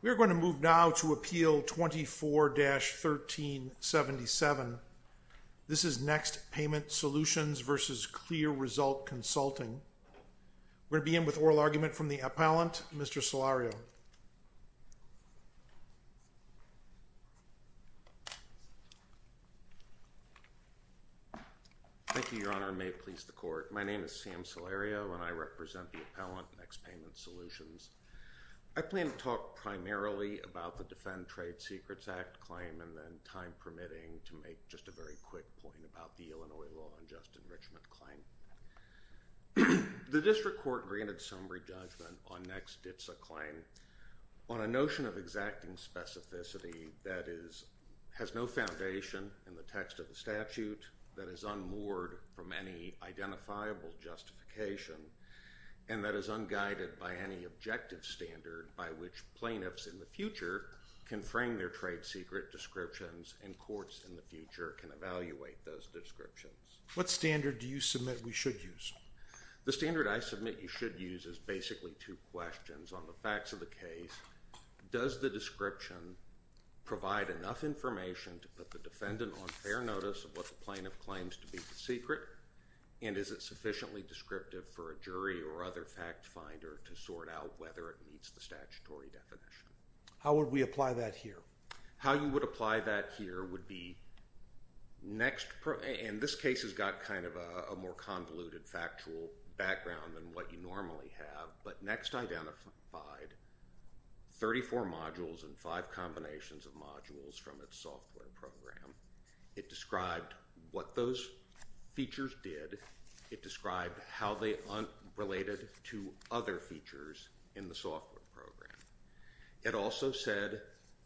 We're going to move now to Appeal 24-1377. This is NEXT Payment Solutions v. CLEAResult Consulting. We're going to begin with oral argument from the appellant, Mr. Salario. Thank you, Your Honor, and may it please the Court. My name is Sam Salario, and I represent the appellant, NEXT Payment Solutions. I plan to talk primarily about the Defend Trade Secrets Act claim and then, time permitting, to make just a very quick point about the Illinois law unjust enrichment claim. The District Court granted summary judgment on NEXT-DITSA claim on a notion of exacting specificity that has no foundation in the text of the statute, that is unmoored from any identifiable justification, and that is unguided by any objective standard by which plaintiffs in the future can frame their trade secret descriptions and courts in the future can evaluate those descriptions. What standard do you submit we should use? The standard I submit you should use is basically two questions. On the facts of the case, does the description provide enough information to put the defendant on fair notice of what the plaintiff claims to be the secret, and is it sufficiently descriptive for a jury or other fact finder to sort out whether it meets the statutory definition? How would we apply that here? How you would apply that here would be NEXT, and this case has got kind of a more convoluted factual background than what you normally have, but NEXT identified 34 modules and 5 combinations of modules from its software program. It described what those features did. It described how they related to other features in the software program. It also said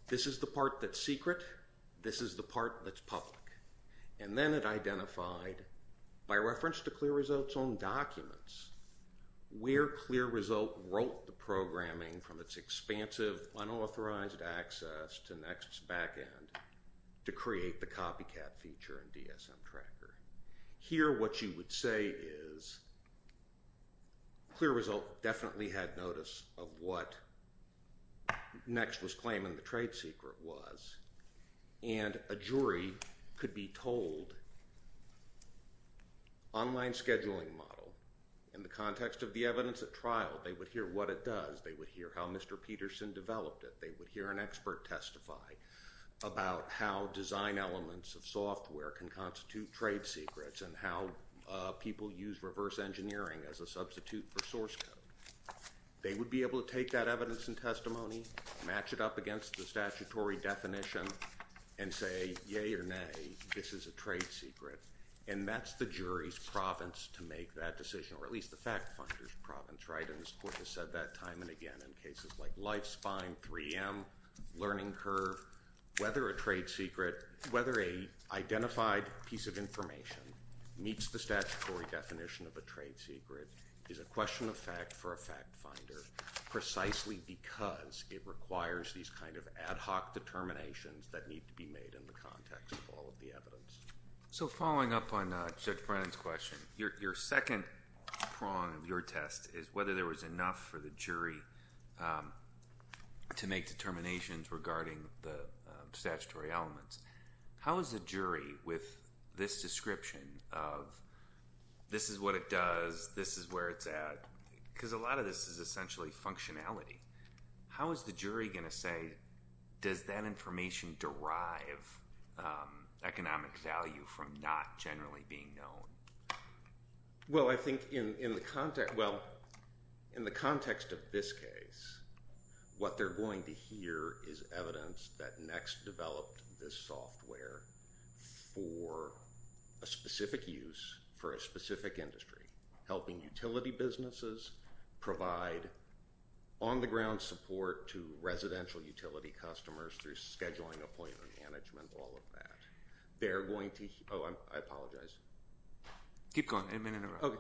this is the part that's secret, this is the part that's public, and then it identified, by reference to Clear Result's own documents, where Clear Result wrote the programming from its expansive, unauthorized access to NEXT's back end to create the copycat feature in DSM Tracker. Here, what you would say is Clear Result definitely had notice of what NEXT was claiming the trade secret was, and a jury could be told, online scheduling model, in the context of the evidence at trial, they would hear what it does, they would hear how Mr. Peterson developed it, they would hear an expert testify about how design elements of software can constitute trade secrets and how people use reverse engineering as a substitute for source code. They would be able to take that evidence and testimony, match it up against the statutory definition, and say, yay or nay, this is a trade secret, and that's the jury's province to make that decision, or at least the fact funder's province, right? And this Court has said that time and again in cases like Life Spine, 3M, Learning Curve, whether a trade secret, whether an identified piece of information meets the statutory definition of a trade secret is a question of fact for a fact finder, precisely because it requires these kind of ad hoc determinations that need to be made in the context of all of the evidence. So following up on Judge Brennan's question, your second prong of your test is whether there was enough for the jury to make determinations regarding the statutory elements. How is the jury, with this description of this is what it does, this is where it's at, because a lot of this is essentially functionality, how is the jury going to say, does that information derive economic value from not generally being known? Well, I think in the context of this case, what they're going to hear is evidence that NeXT developed this software for a specific use for a specific industry, helping utility businesses provide on-the-ground support to residential utility customers through scheduling, appointment management, all of that. They're going to, oh, I apologize. Keep going, a minute or so.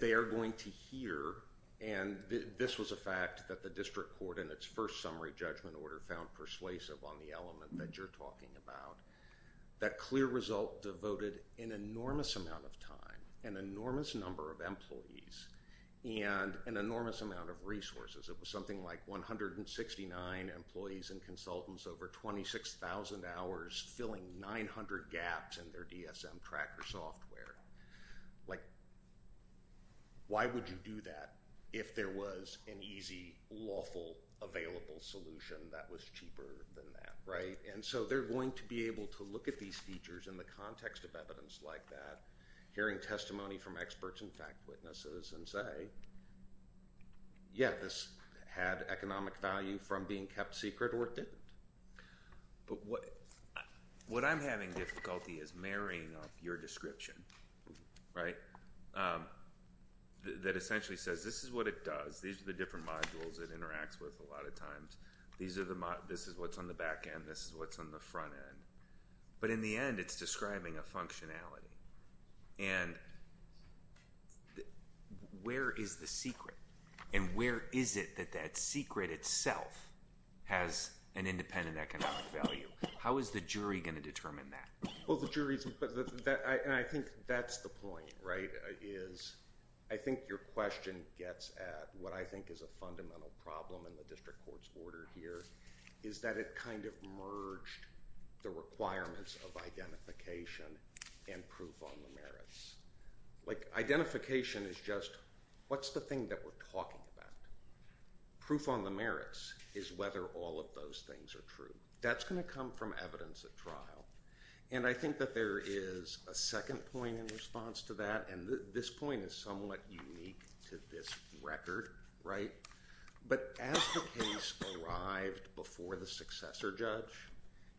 They are going to hear, and this was a fact that the District Court in its first summary judgment order found persuasive on the element that you're talking about, that clear result devoted an enormous amount of time, an enormous number of employees, and an enormous amount of resources. It was something like 169 employees and consultants over 26,000 hours, filling 900 gaps in their DSM tracker software. Like, why would you do that if there was an easy, lawful, available solution that was cheaper than that, right? And so they're going to be able to look at these features in the context of evidence like that, hearing testimony from experts and fact witnesses and say, yeah, this had economic value from being kept secret or it didn't. But what I'm having difficulty is marrying up your description, right, that essentially says this is what it does. These are the different modules it interacts with a lot of times. This is what's on the back end. This is what's on the front end. But in the end, it's describing a functionality. And where is the secret? And where is it that that secret itself has an independent economic value? How is the jury going to determine that? Well, the jury's going to put that, and I think that's the point, right, is I think your question gets at what I think is a fundamental problem in the district court's order here is that it kind of merged the requirements of identification and proof on the merits. Like, identification is just what's the thing that we're talking about? Proof on the merits is whether all of those things are true. That's going to come from evidence at trial. And I think that there is a second point in response to that, and this point is somewhat unique to this record, right? But as the case arrived before the successor judge,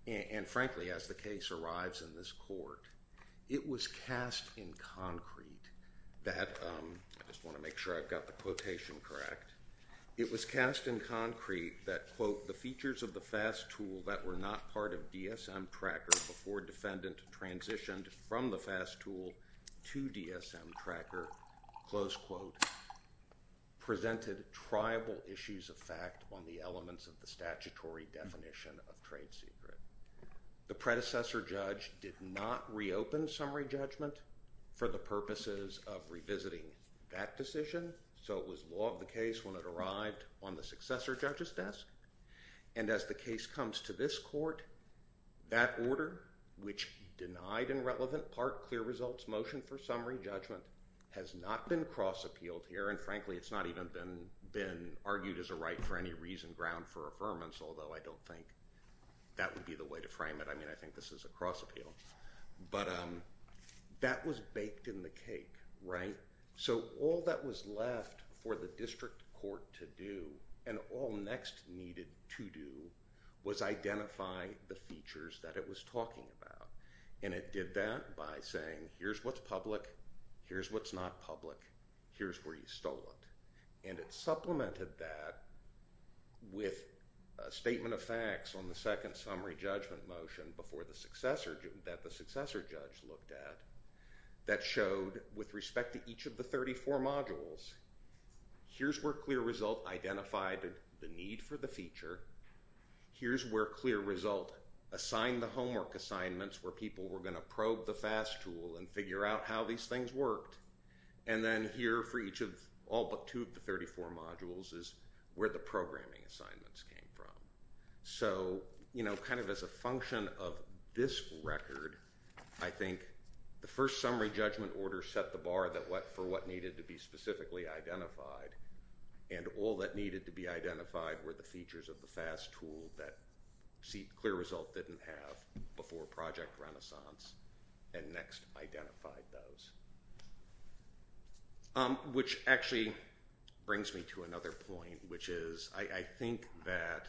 and frankly, as the case arrives in this court, it was cast in concrete that I just want to make sure I've got the quotation correct. It was cast in concrete that, quote, presented triable issues of fact on the elements of the statutory definition of trade secret. The predecessor judge did not reopen summary judgment for the purposes of revisiting that decision, so it was law of the case when it arrived on the successor judge's desk. And as the case comes to this court, that order, which denied in relevant part clear results motion for summary judgment, has not been cross-appealed here. And frankly, it's not even been argued as a right for any reason, ground for affirmance, although I don't think that would be the way to frame it. I mean, I think this is a cross-appeal. But that was baked in the cake, right? So all that was left for the district court to do, and all next needed to do, was identify the features that it was talking about. And it did that by saying, here's what's public, here's what's not public, here's where you stole it. And it supplemented that with a statement of facts on the second summary judgment motion that the successor judge looked at that showed, with respect to each of the 34 modules, here's where clear result identified the need for the feature, here's where clear result assigned the homework assignments where people were going to probe the FAST tool and figure out how these things worked, and then here for each of all but two of the 34 modules is where the programming assignments came from. So, you know, kind of as a function of this record, I think the first summary judgment order set the bar for what needed to be specifically identified, and all that needed to be identified were the features of the FAST tool that clear result didn't have before project renaissance and next identified those. Which actually brings me to another point, which is I think that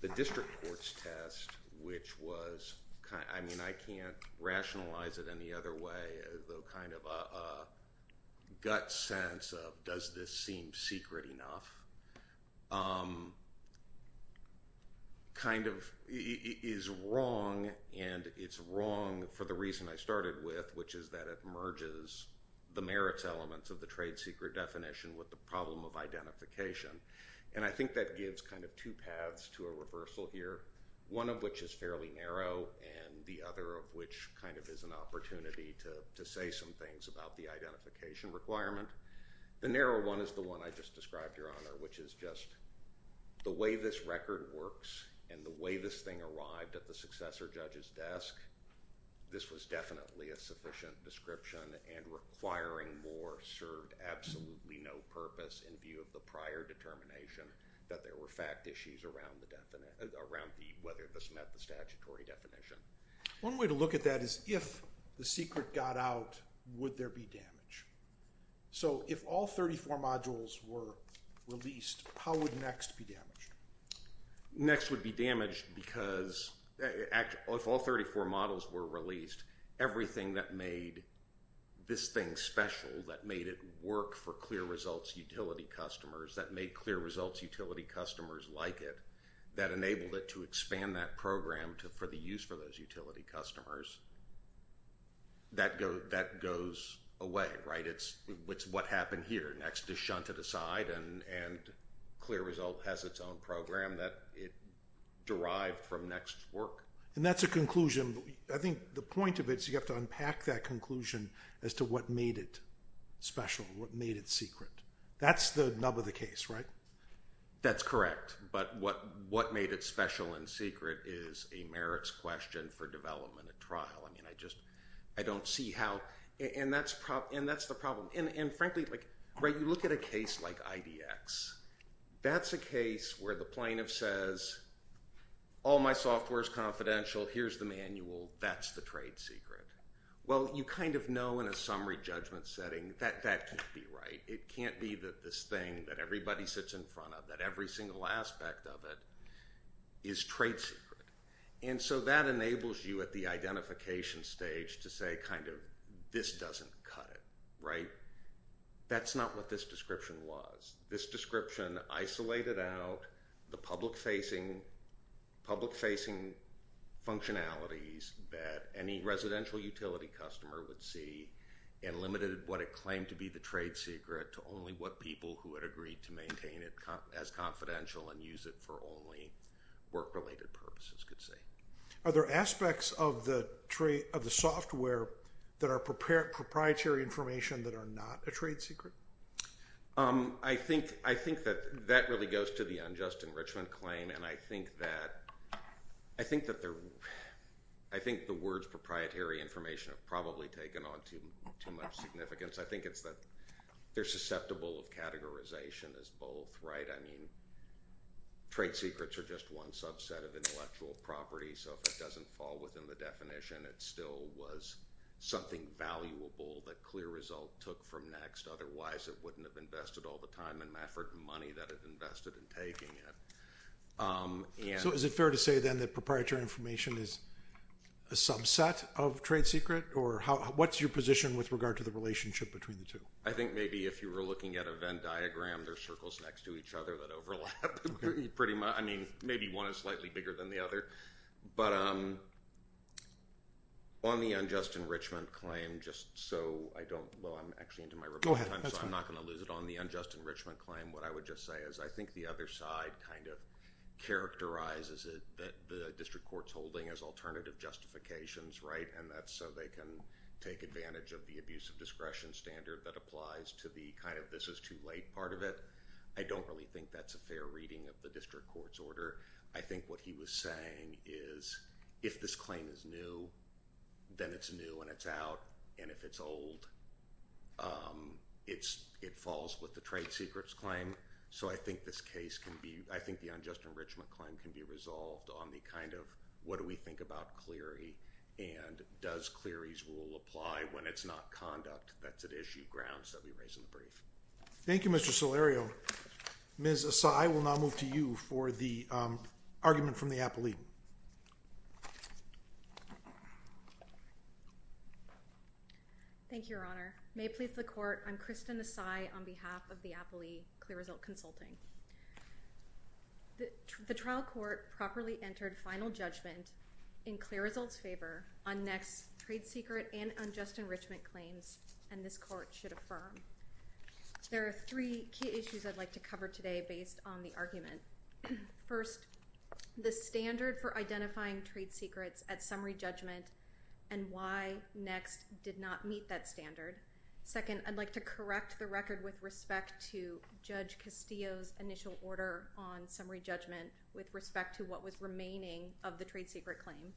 the district court's test, which was kind of, I mean, I can't rationalize it any other way, the kind of gut sense of does this seem secret enough kind of is wrong, and it's wrong for the reason I started with, which is that it merges the merits elements of the trade secret definition with the problem of identification. And I think that gives kind of two paths to a reversal here, one of which is fairly narrow and the other of which kind of is an opportunity to say some things about the identification requirement. The narrow one is the one I just described, Your Honor, which is just the way this record works and the way this thing arrived at the successor judge's desk, this was definitely a sufficient description and requiring more served absolutely no purpose in view of the prior determination that there were fact issues around whether this met the statutory definition. One way to look at that is if the secret got out, would there be damage? So if all 34 modules were released, how would next be damaged? Next would be damaged because if all 34 models were released, everything that made this thing special, that made it work for clear results utility customers, that made clear results utility customers like it, that enabled it to expand that program for the use for those utility customers, that goes away, right? It's what happened here. Next is shunted aside and clear result has its own program that it derived from next's work. And that's a conclusion. I think the point of it is you have to unpack that conclusion as to what made it special, what made it secret. That's the nub of the case, right? That's correct. But what made it special and secret is a merits question for development at trial. I mean, I just don't see how. And that's the problem. And frankly, you look at a case like IDX. That's a case where the plaintiff says all my software is confidential. Here's the manual. That's the trade secret. Well, you kind of know in a summary judgment setting that that can't be right. It can't be that this thing that everybody sits in front of, that every single aspect of it is trade secret. And so that enables you at the identification stage to say kind of this doesn't cut it, right? That's not what this description was. This description isolated out the public-facing functionalities that any residential utility customer would see and limited what it claimed to be the trade secret to only what people who had agreed to maintain it as confidential and use it for only work-related purposes could see. Are there aspects of the software that are proprietary information that are not a trade secret? I think that that really goes to the unjust enrichment claim. And I think that the words proprietary information have probably taken on too much significance. I think it's that they're susceptible of categorization as both, right? I mean, trade secrets are just one subset of intellectual property. So if it doesn't fall within the definition, it still was something valuable that clear result took from next. Otherwise, it wouldn't have invested all the time and effort and money that it invested in taking it. So is it fair to say then that proprietary information is a subset of trade secret? Or what's your position with regard to the relationship between the two? I think maybe if you were looking at a Venn diagram, there's circles next to each other that overlap pretty much. I mean, maybe one is slightly bigger than the other. But on the unjust enrichment claim, just so I don't – well, I'm actually into my rebuttal time. Go ahead. That's fine. So I'm not going to lose it. On the unjust enrichment claim, what I would just say is I think the other side kind of characterizes it, that the district court's holding as alternative justifications, right? And that's so they can take advantage of the abuse of discretion standard that applies to the kind of this is too late part of it. I don't really think that's a fair reading of the district court's order. I think what he was saying is if this claim is new, then it's new and it's out. And if it's old, it falls with the trade secrets claim. So I think this case can be – I think the unjust enrichment claim can be resolved on the kind of what do we think about Cleary and does Cleary's rule apply when it's not conduct that's at issue grounds that we raise in the brief. Thank you, Mr. Salerio. Ms. Assay, we'll now move to you for the argument from the appellee. Thank you, Your Honor. May it please the court, I'm Kristen Assay on behalf of the appellee, Clear Result Consulting. The trial court properly entered final judgment in Clear Result's favor on next trade secret and unjust enrichment claims, and this court should affirm. There are three key issues I'd like to cover today based on the argument. First, the standard for identifying trade secrets at summary judgment and why next did not meet that standard. Second, I'd like to correct the record with respect to Judge Castillo's initial order on summary judgment with respect to what was remaining of the trade secret claim.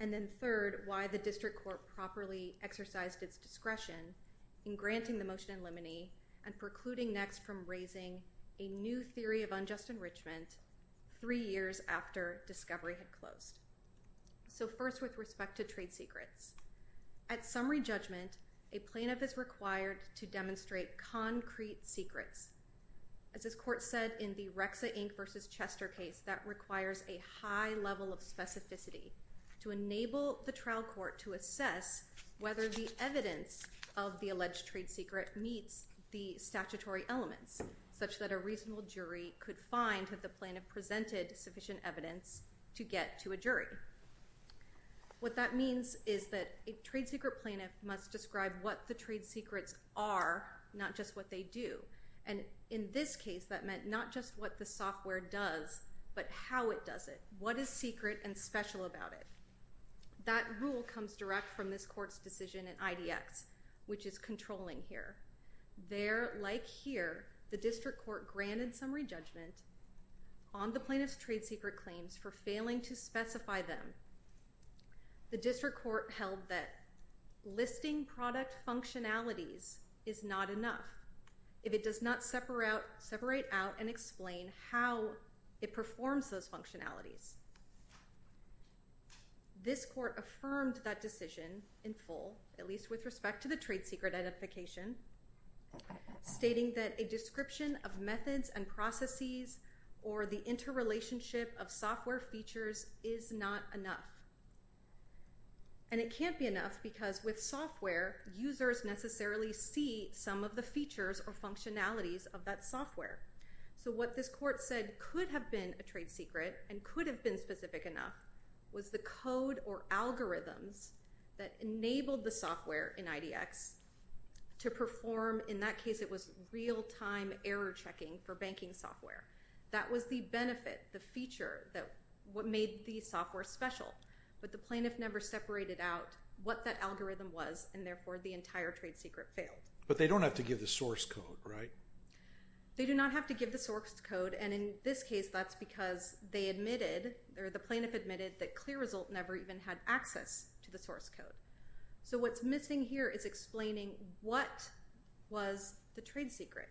And then third, why the district court properly exercised its discretion in granting the motion in limine and precluding next from raising a new theory of unjust enrichment three years after discovery had closed. So first, with respect to trade secrets, at summary judgment, a plaintiff is required to demonstrate concrete secrets. As this court said in the Rexa, Inc. v. Chester case, that requires a high level of specificity to enable the trial court to assess whether the evidence of the alleged trade secret meets the statutory elements, such that a reasonable jury could find if the plaintiff presented sufficient evidence to get to a jury. What that means is that a trade secret plaintiff must describe what the trade secrets are, not just what they do. And in this case, that meant not just what the software does, but how it does it. What is secret and special about it? That rule comes direct from this court's decision in IDX, which is controlling here. There, like here, the district court granted summary judgment on the plaintiff's trade secret claims for failing to specify them. The district court held that listing product functionalities is not enough. If it does not separate out and explain how it performs those functionalities. This court affirmed that decision in full, at least with respect to the trade secret identification, stating that a description of methods and processes or the interrelationship of software features is not enough. And it can't be enough because with software, users necessarily see some of the features or functionalities of that software. So what this court said could have been a trade secret and could have been specific enough, was the code or algorithms that enabled the software in IDX to perform, in that case it was real-time error checking for banking software. That was the benefit, the feature that made the software special. But the plaintiff never separated out what that algorithm was, and therefore the entire trade secret failed. But they don't have to give the source code, right? They do not have to give the source code, and in this case that's because they admitted, or the plaintiff admitted that ClearResult never even had access to the source code. So what's missing here is explaining what was the trade secret.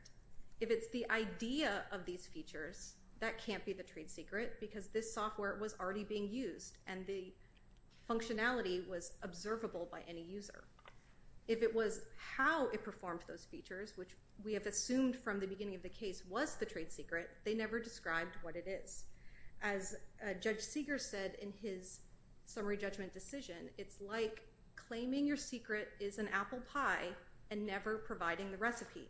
If it's the idea of these features, that can't be the trade secret because this software was already being used and the functionality was observable by any user. If it was how it performed those features, which we have assumed from the beginning of the case was the trade secret, they never described what it is. As Judge Seeger said in his summary judgment decision, it's like claiming your secret is an apple pie and never providing the recipe.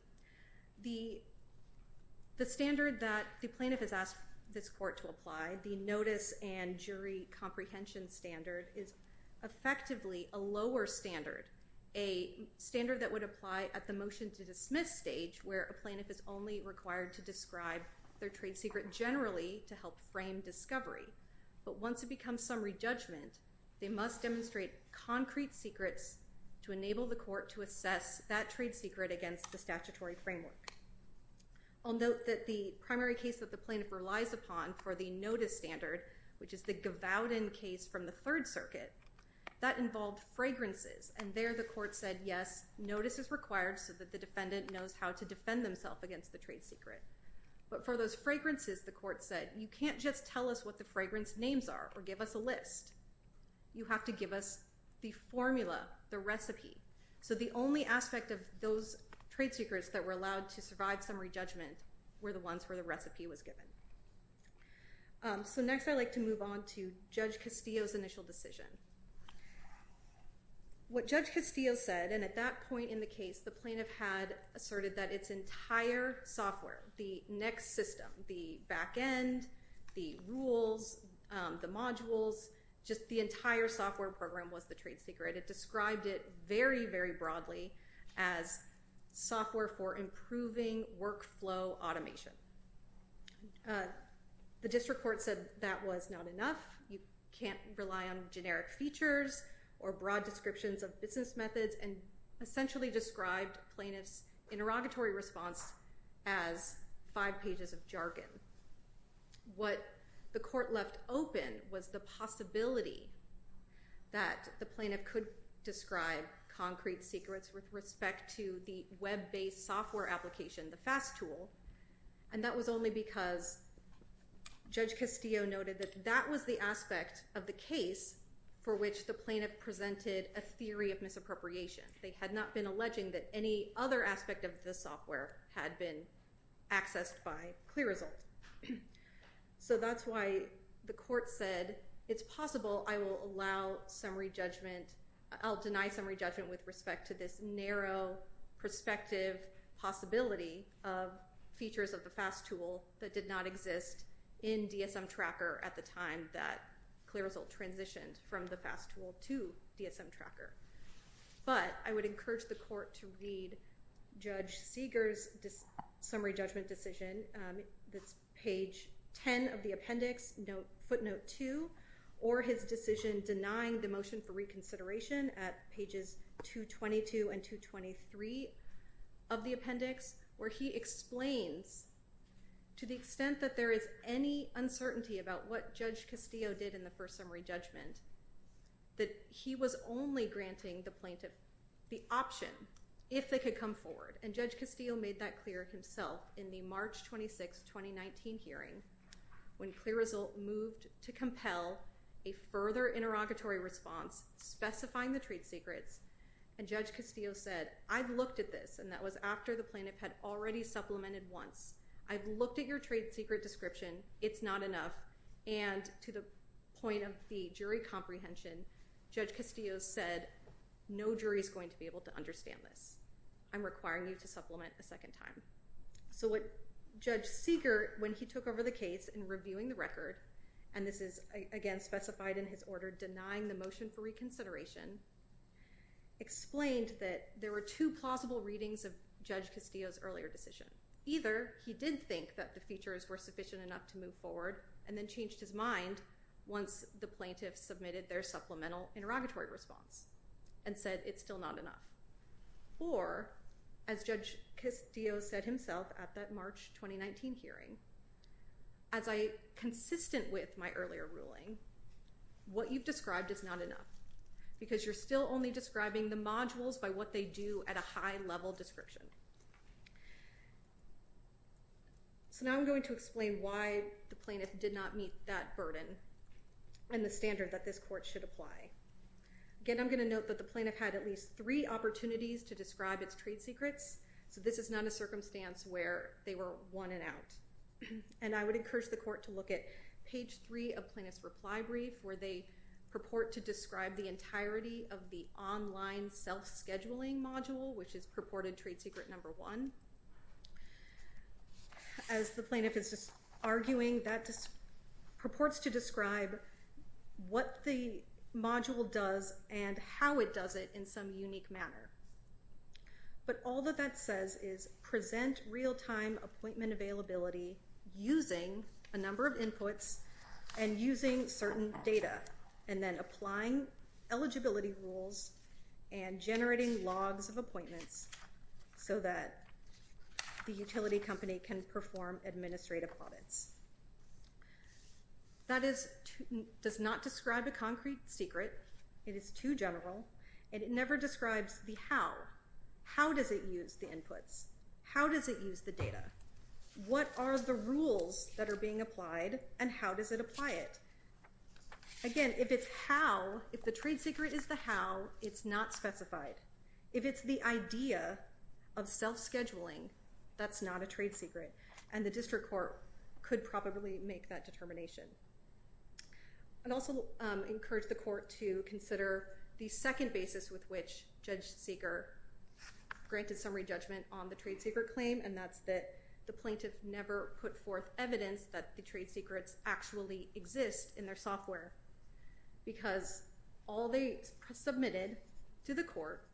The standard that the plaintiff has asked this court to apply, the notice and jury comprehension standard, is effectively a lower standard, a standard that would apply at the motion to dismiss stage where a plaintiff is only required to describe their trade secret generally to help frame discovery. But once it becomes summary judgment, they must demonstrate concrete secrets to enable the court to assess that trade secret against the statutory framework. I'll note that the primary case that the plaintiff relies upon for the notice standard, which is the Gavodin case from the Third Circuit, that involved fragrances. And there the court said, yes, notice is required so that the defendant knows how to defend themselves against the trade secret. But for those fragrances, the court said, you can't just tell us what the fragrance names are or give us a list. You have to give us the formula, the recipe. So the only aspect of those trade secrets that were allowed to survive summary judgment were the ones where the recipe was given. So next I'd like to move on to Judge Castillo's initial decision. What Judge Castillo said, and at that point in the case, the plaintiff had asserted that its entire software, the next system, the back end, the rules, the modules, just the entire software program was the trade secret. It described it very, very broadly as software for improving workflow automation. The district court said that was not enough. You can't rely on generic features or broad descriptions of business methods and essentially described plaintiff's interrogatory response as five pages of jargon. What the court left open was the possibility that the plaintiff could describe concrete secrets with respect to the web-based software application, the fast tool. And that was only because Judge Castillo noted that that was the aspect of the case for which the plaintiff presented a theory of misappropriation. They had not been alleging that any other aspect of the software had been accessed by Clear Result. So that's why the court said it's possible I will allow summary judgment, I'll deny summary judgment with respect to this narrow perspective possibility of features of the fast tool that did not exist in DSM Tracker at the time that Clear Result transitioned from the fast tool to DSM Tracker. But I would encourage the court to read Judge Seeger's summary judgment decision that's page 10 of the appendix, footnote 2, or his decision denying the motion for reconsideration at pages 222 and 223 of the appendix, where he explains to the extent that there is any uncertainty about what Judge Castillo did in the first summary judgment, that he was only granting the plaintiff the option if they could come forward. And Judge Castillo made that clear himself in the March 26, 2019 hearing, when Clear Result moved to compel a further interrogatory response specifying the trade secrets. And Judge Castillo said, I've looked at this, and that was after the plaintiff had already supplemented once. I've looked at your trade secret description. It's not enough. And to the point of the jury comprehension, Judge Castillo said, no jury is going to be able to understand this. I'm requiring you to supplement a second time. So what Judge Seeger, when he took over the case in reviewing the record, and this is, again, specified in his order denying the motion for reconsideration, explained that there were two plausible readings of Judge Castillo's earlier decision. Either he did think that the features were sufficient enough to move forward, and then changed his mind once the plaintiff submitted their supplemental interrogatory response, and said it's still not enough. Or, as Judge Castillo said himself at that March, 2019 hearing, as I, consistent with my earlier ruling, what you've described is not enough, because you're still only describing the modules by what they do at a high level description. So now I'm going to explain why the plaintiff did not meet that burden, and the standard that this court should apply. Again, I'm going to note that the plaintiff had at least three opportunities to describe its trade secrets, so this is not a circumstance where they were won and out. And I would encourage the court to look at page three of plaintiff's reply brief, where they purport to describe the entirety of the online self-scheduling module, which is purported trade secret number one. As the plaintiff is arguing, that purports to describe what the module does, and how it does it in some unique manner. But all that that says is present real-time appointment availability using a number of inputs, and using certain data, and then applying eligibility rules and generating logs of appointments, so that the utility company can perform administrative audits. That does not describe a concrete secret, it is too general, and it never describes the how. How does it use the inputs? How does it use the data? What are the rules that are being applied, and how does it apply it? Again, if it's how, if the trade secret is the how, it's not specified. If it's the idea of self-scheduling, that's not a trade secret, and the district court could probably make that determination. I'd also encourage the court to consider the second basis with which Judge Seeger granted summary judgment on the trade secret claim, and that's that the plaintiff never put forth evidence that the trade secrets actually exist in their software, because all they submitted to the court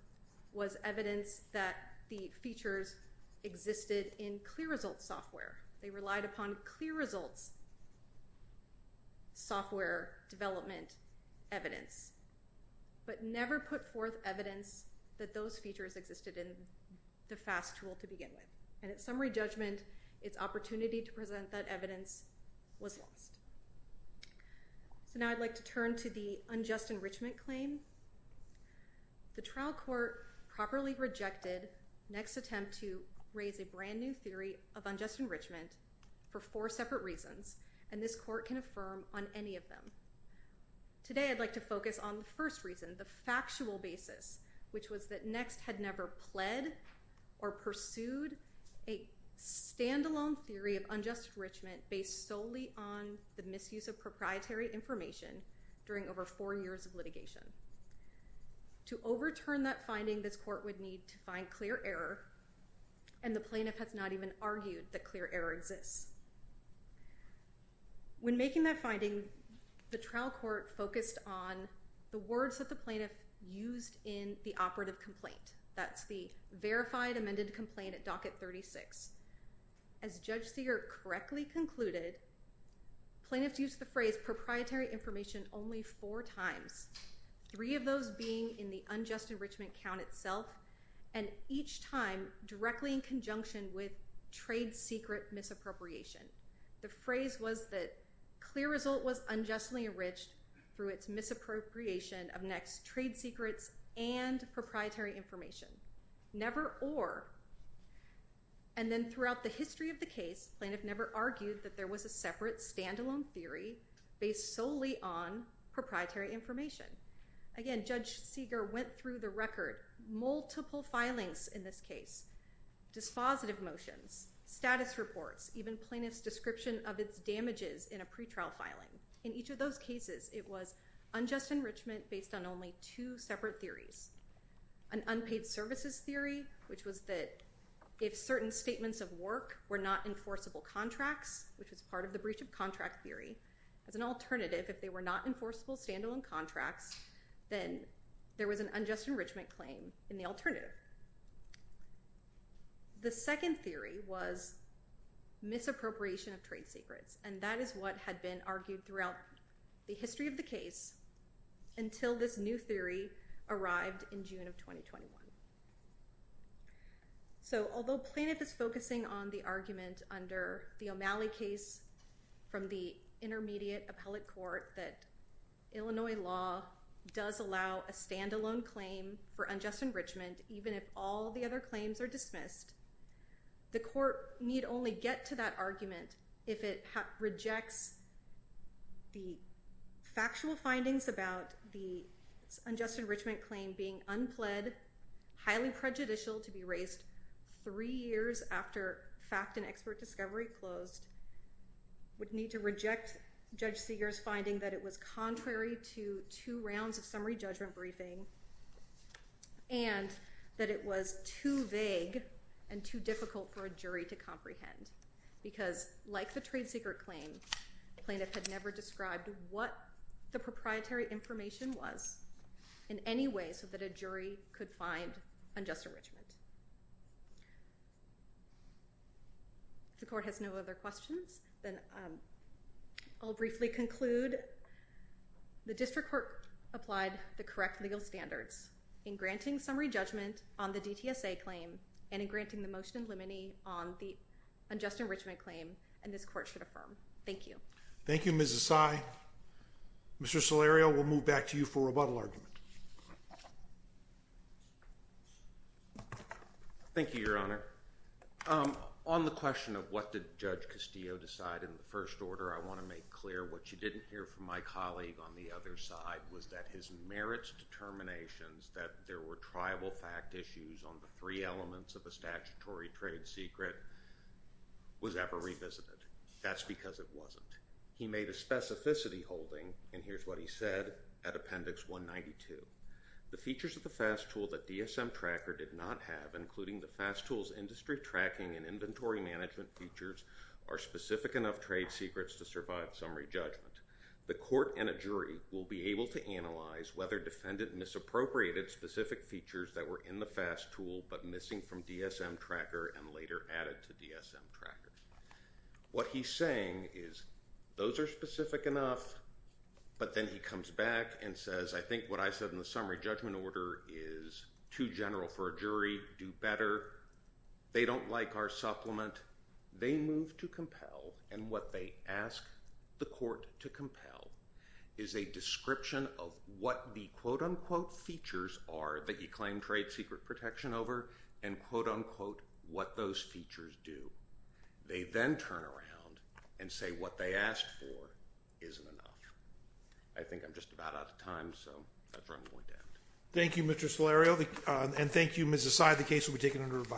was evidence that the features existed in ClearResult software. They relied upon ClearResult's software development evidence, but never put forth evidence that those features existed in the FAST tool to begin with. And at summary judgment, its opportunity to present that evidence was lost. So now I'd like to turn to the unjust enrichment claim. The trial court properly rejected NeXT's attempt to raise a brand new theory of unjust enrichment for four separate reasons, and this court can affirm on any of them. Today I'd like to focus on the first reason, the factual basis, which was that NeXT had never pled or pursued a stand-alone theory of unjust enrichment based solely on the misuse of proprietary information during over four years of litigation. To overturn that finding, this court would need to find clear error, and the plaintiff has not even argued that clear error exists. When making that finding, the trial court focused on the words that the plaintiff used in the operative complaint. That's the verified amended complaint at docket 36. As Judge Segar correctly concluded, plaintiffs used the phrase proprietary information only four times, three of those being in the unjust enrichment count itself, and each time directly in conjunction with trade secret misappropriation. The phrase was that clear result was unjustly enriched through its misappropriation of NeXT's trade secrets and proprietary information, never or. And then throughout the history of the case, plaintiff never argued that there was a separate stand-alone theory based solely on proprietary information. Again, Judge Segar went through the record, multiple filings in this case, dispositive motions, status reports, even plaintiff's description of its damages in a pretrial filing. In each of those cases, it was unjust enrichment based on only two separate theories, an unpaid services theory, which was that if certain statements of work were not enforceable contracts, which was part of the breach of contract theory, as an alternative, if they were not enforceable stand-alone contracts, then there was an unjust enrichment claim in the alternative. The second theory was misappropriation of trade secrets, and that is what had been argued throughout the history of the case until this new theory arrived in June of 2021. So although plaintiff is focusing on the argument under the O'Malley case from the intermediate appellate court that Illinois law does allow a stand-alone claim for unjust enrichment, even if all the other claims are dismissed, the court need only get to that argument if it rejects the factual findings about the unjust enrichment claim being unpled, highly prejudicial to be raised three years after fact and expert discovery closed, would need to reject Judge Segar's finding that it was contrary to two rounds of summary judgment briefing, and that it was too vague and too difficult for a jury to comprehend because, like the trade secret claim, plaintiff had never described what the proprietary information was in any way so that a jury could find unjust enrichment. If the court has no other questions, then I'll briefly conclude. The district court applied the correct legal standards in granting summary judgment on the DTSA claim and in granting the motion in limine on the unjust enrichment claim, and this court should affirm. Thank you. Thank you, Ms. Asai. Mr. Salerio, we'll move back to you for rebuttal argument. Thank you, Your Honor. On the question of what did Judge Castillo decide in the first order, I want to make clear what you didn't hear from my colleague on the other side was that his merits determinations that there were triable fact issues on the three elements of a statutory trade secret was ever revisited. That's because it wasn't. He made a specificity holding, and here's what he said at Appendix 192. The features of the FAST tool that DSM Tracker did not have, including the FAST tool's industry tracking and inventory management features, are specific enough trade secrets to survive summary judgment. The court and a jury will be able to analyze whether defendant misappropriated specific features that were in the FAST tool but missing from DSM Tracker and later added to DSM Tracker. What he's saying is those are specific enough, but then he comes back and says, I think what I said in the summary judgment order is too general for a jury, do better, they don't like our supplement, they move to compel, and what they ask the court to compel is a description of what the quote-unquote features are that he claimed trade secret protection over and quote-unquote what those features do. They then turn around and say what they asked for isn't enough. I think I'm just about out of time, so that's where I'm going to end. Thank you, Mr. Solario, and thank you, Ms. Assay, the case will be taken under review.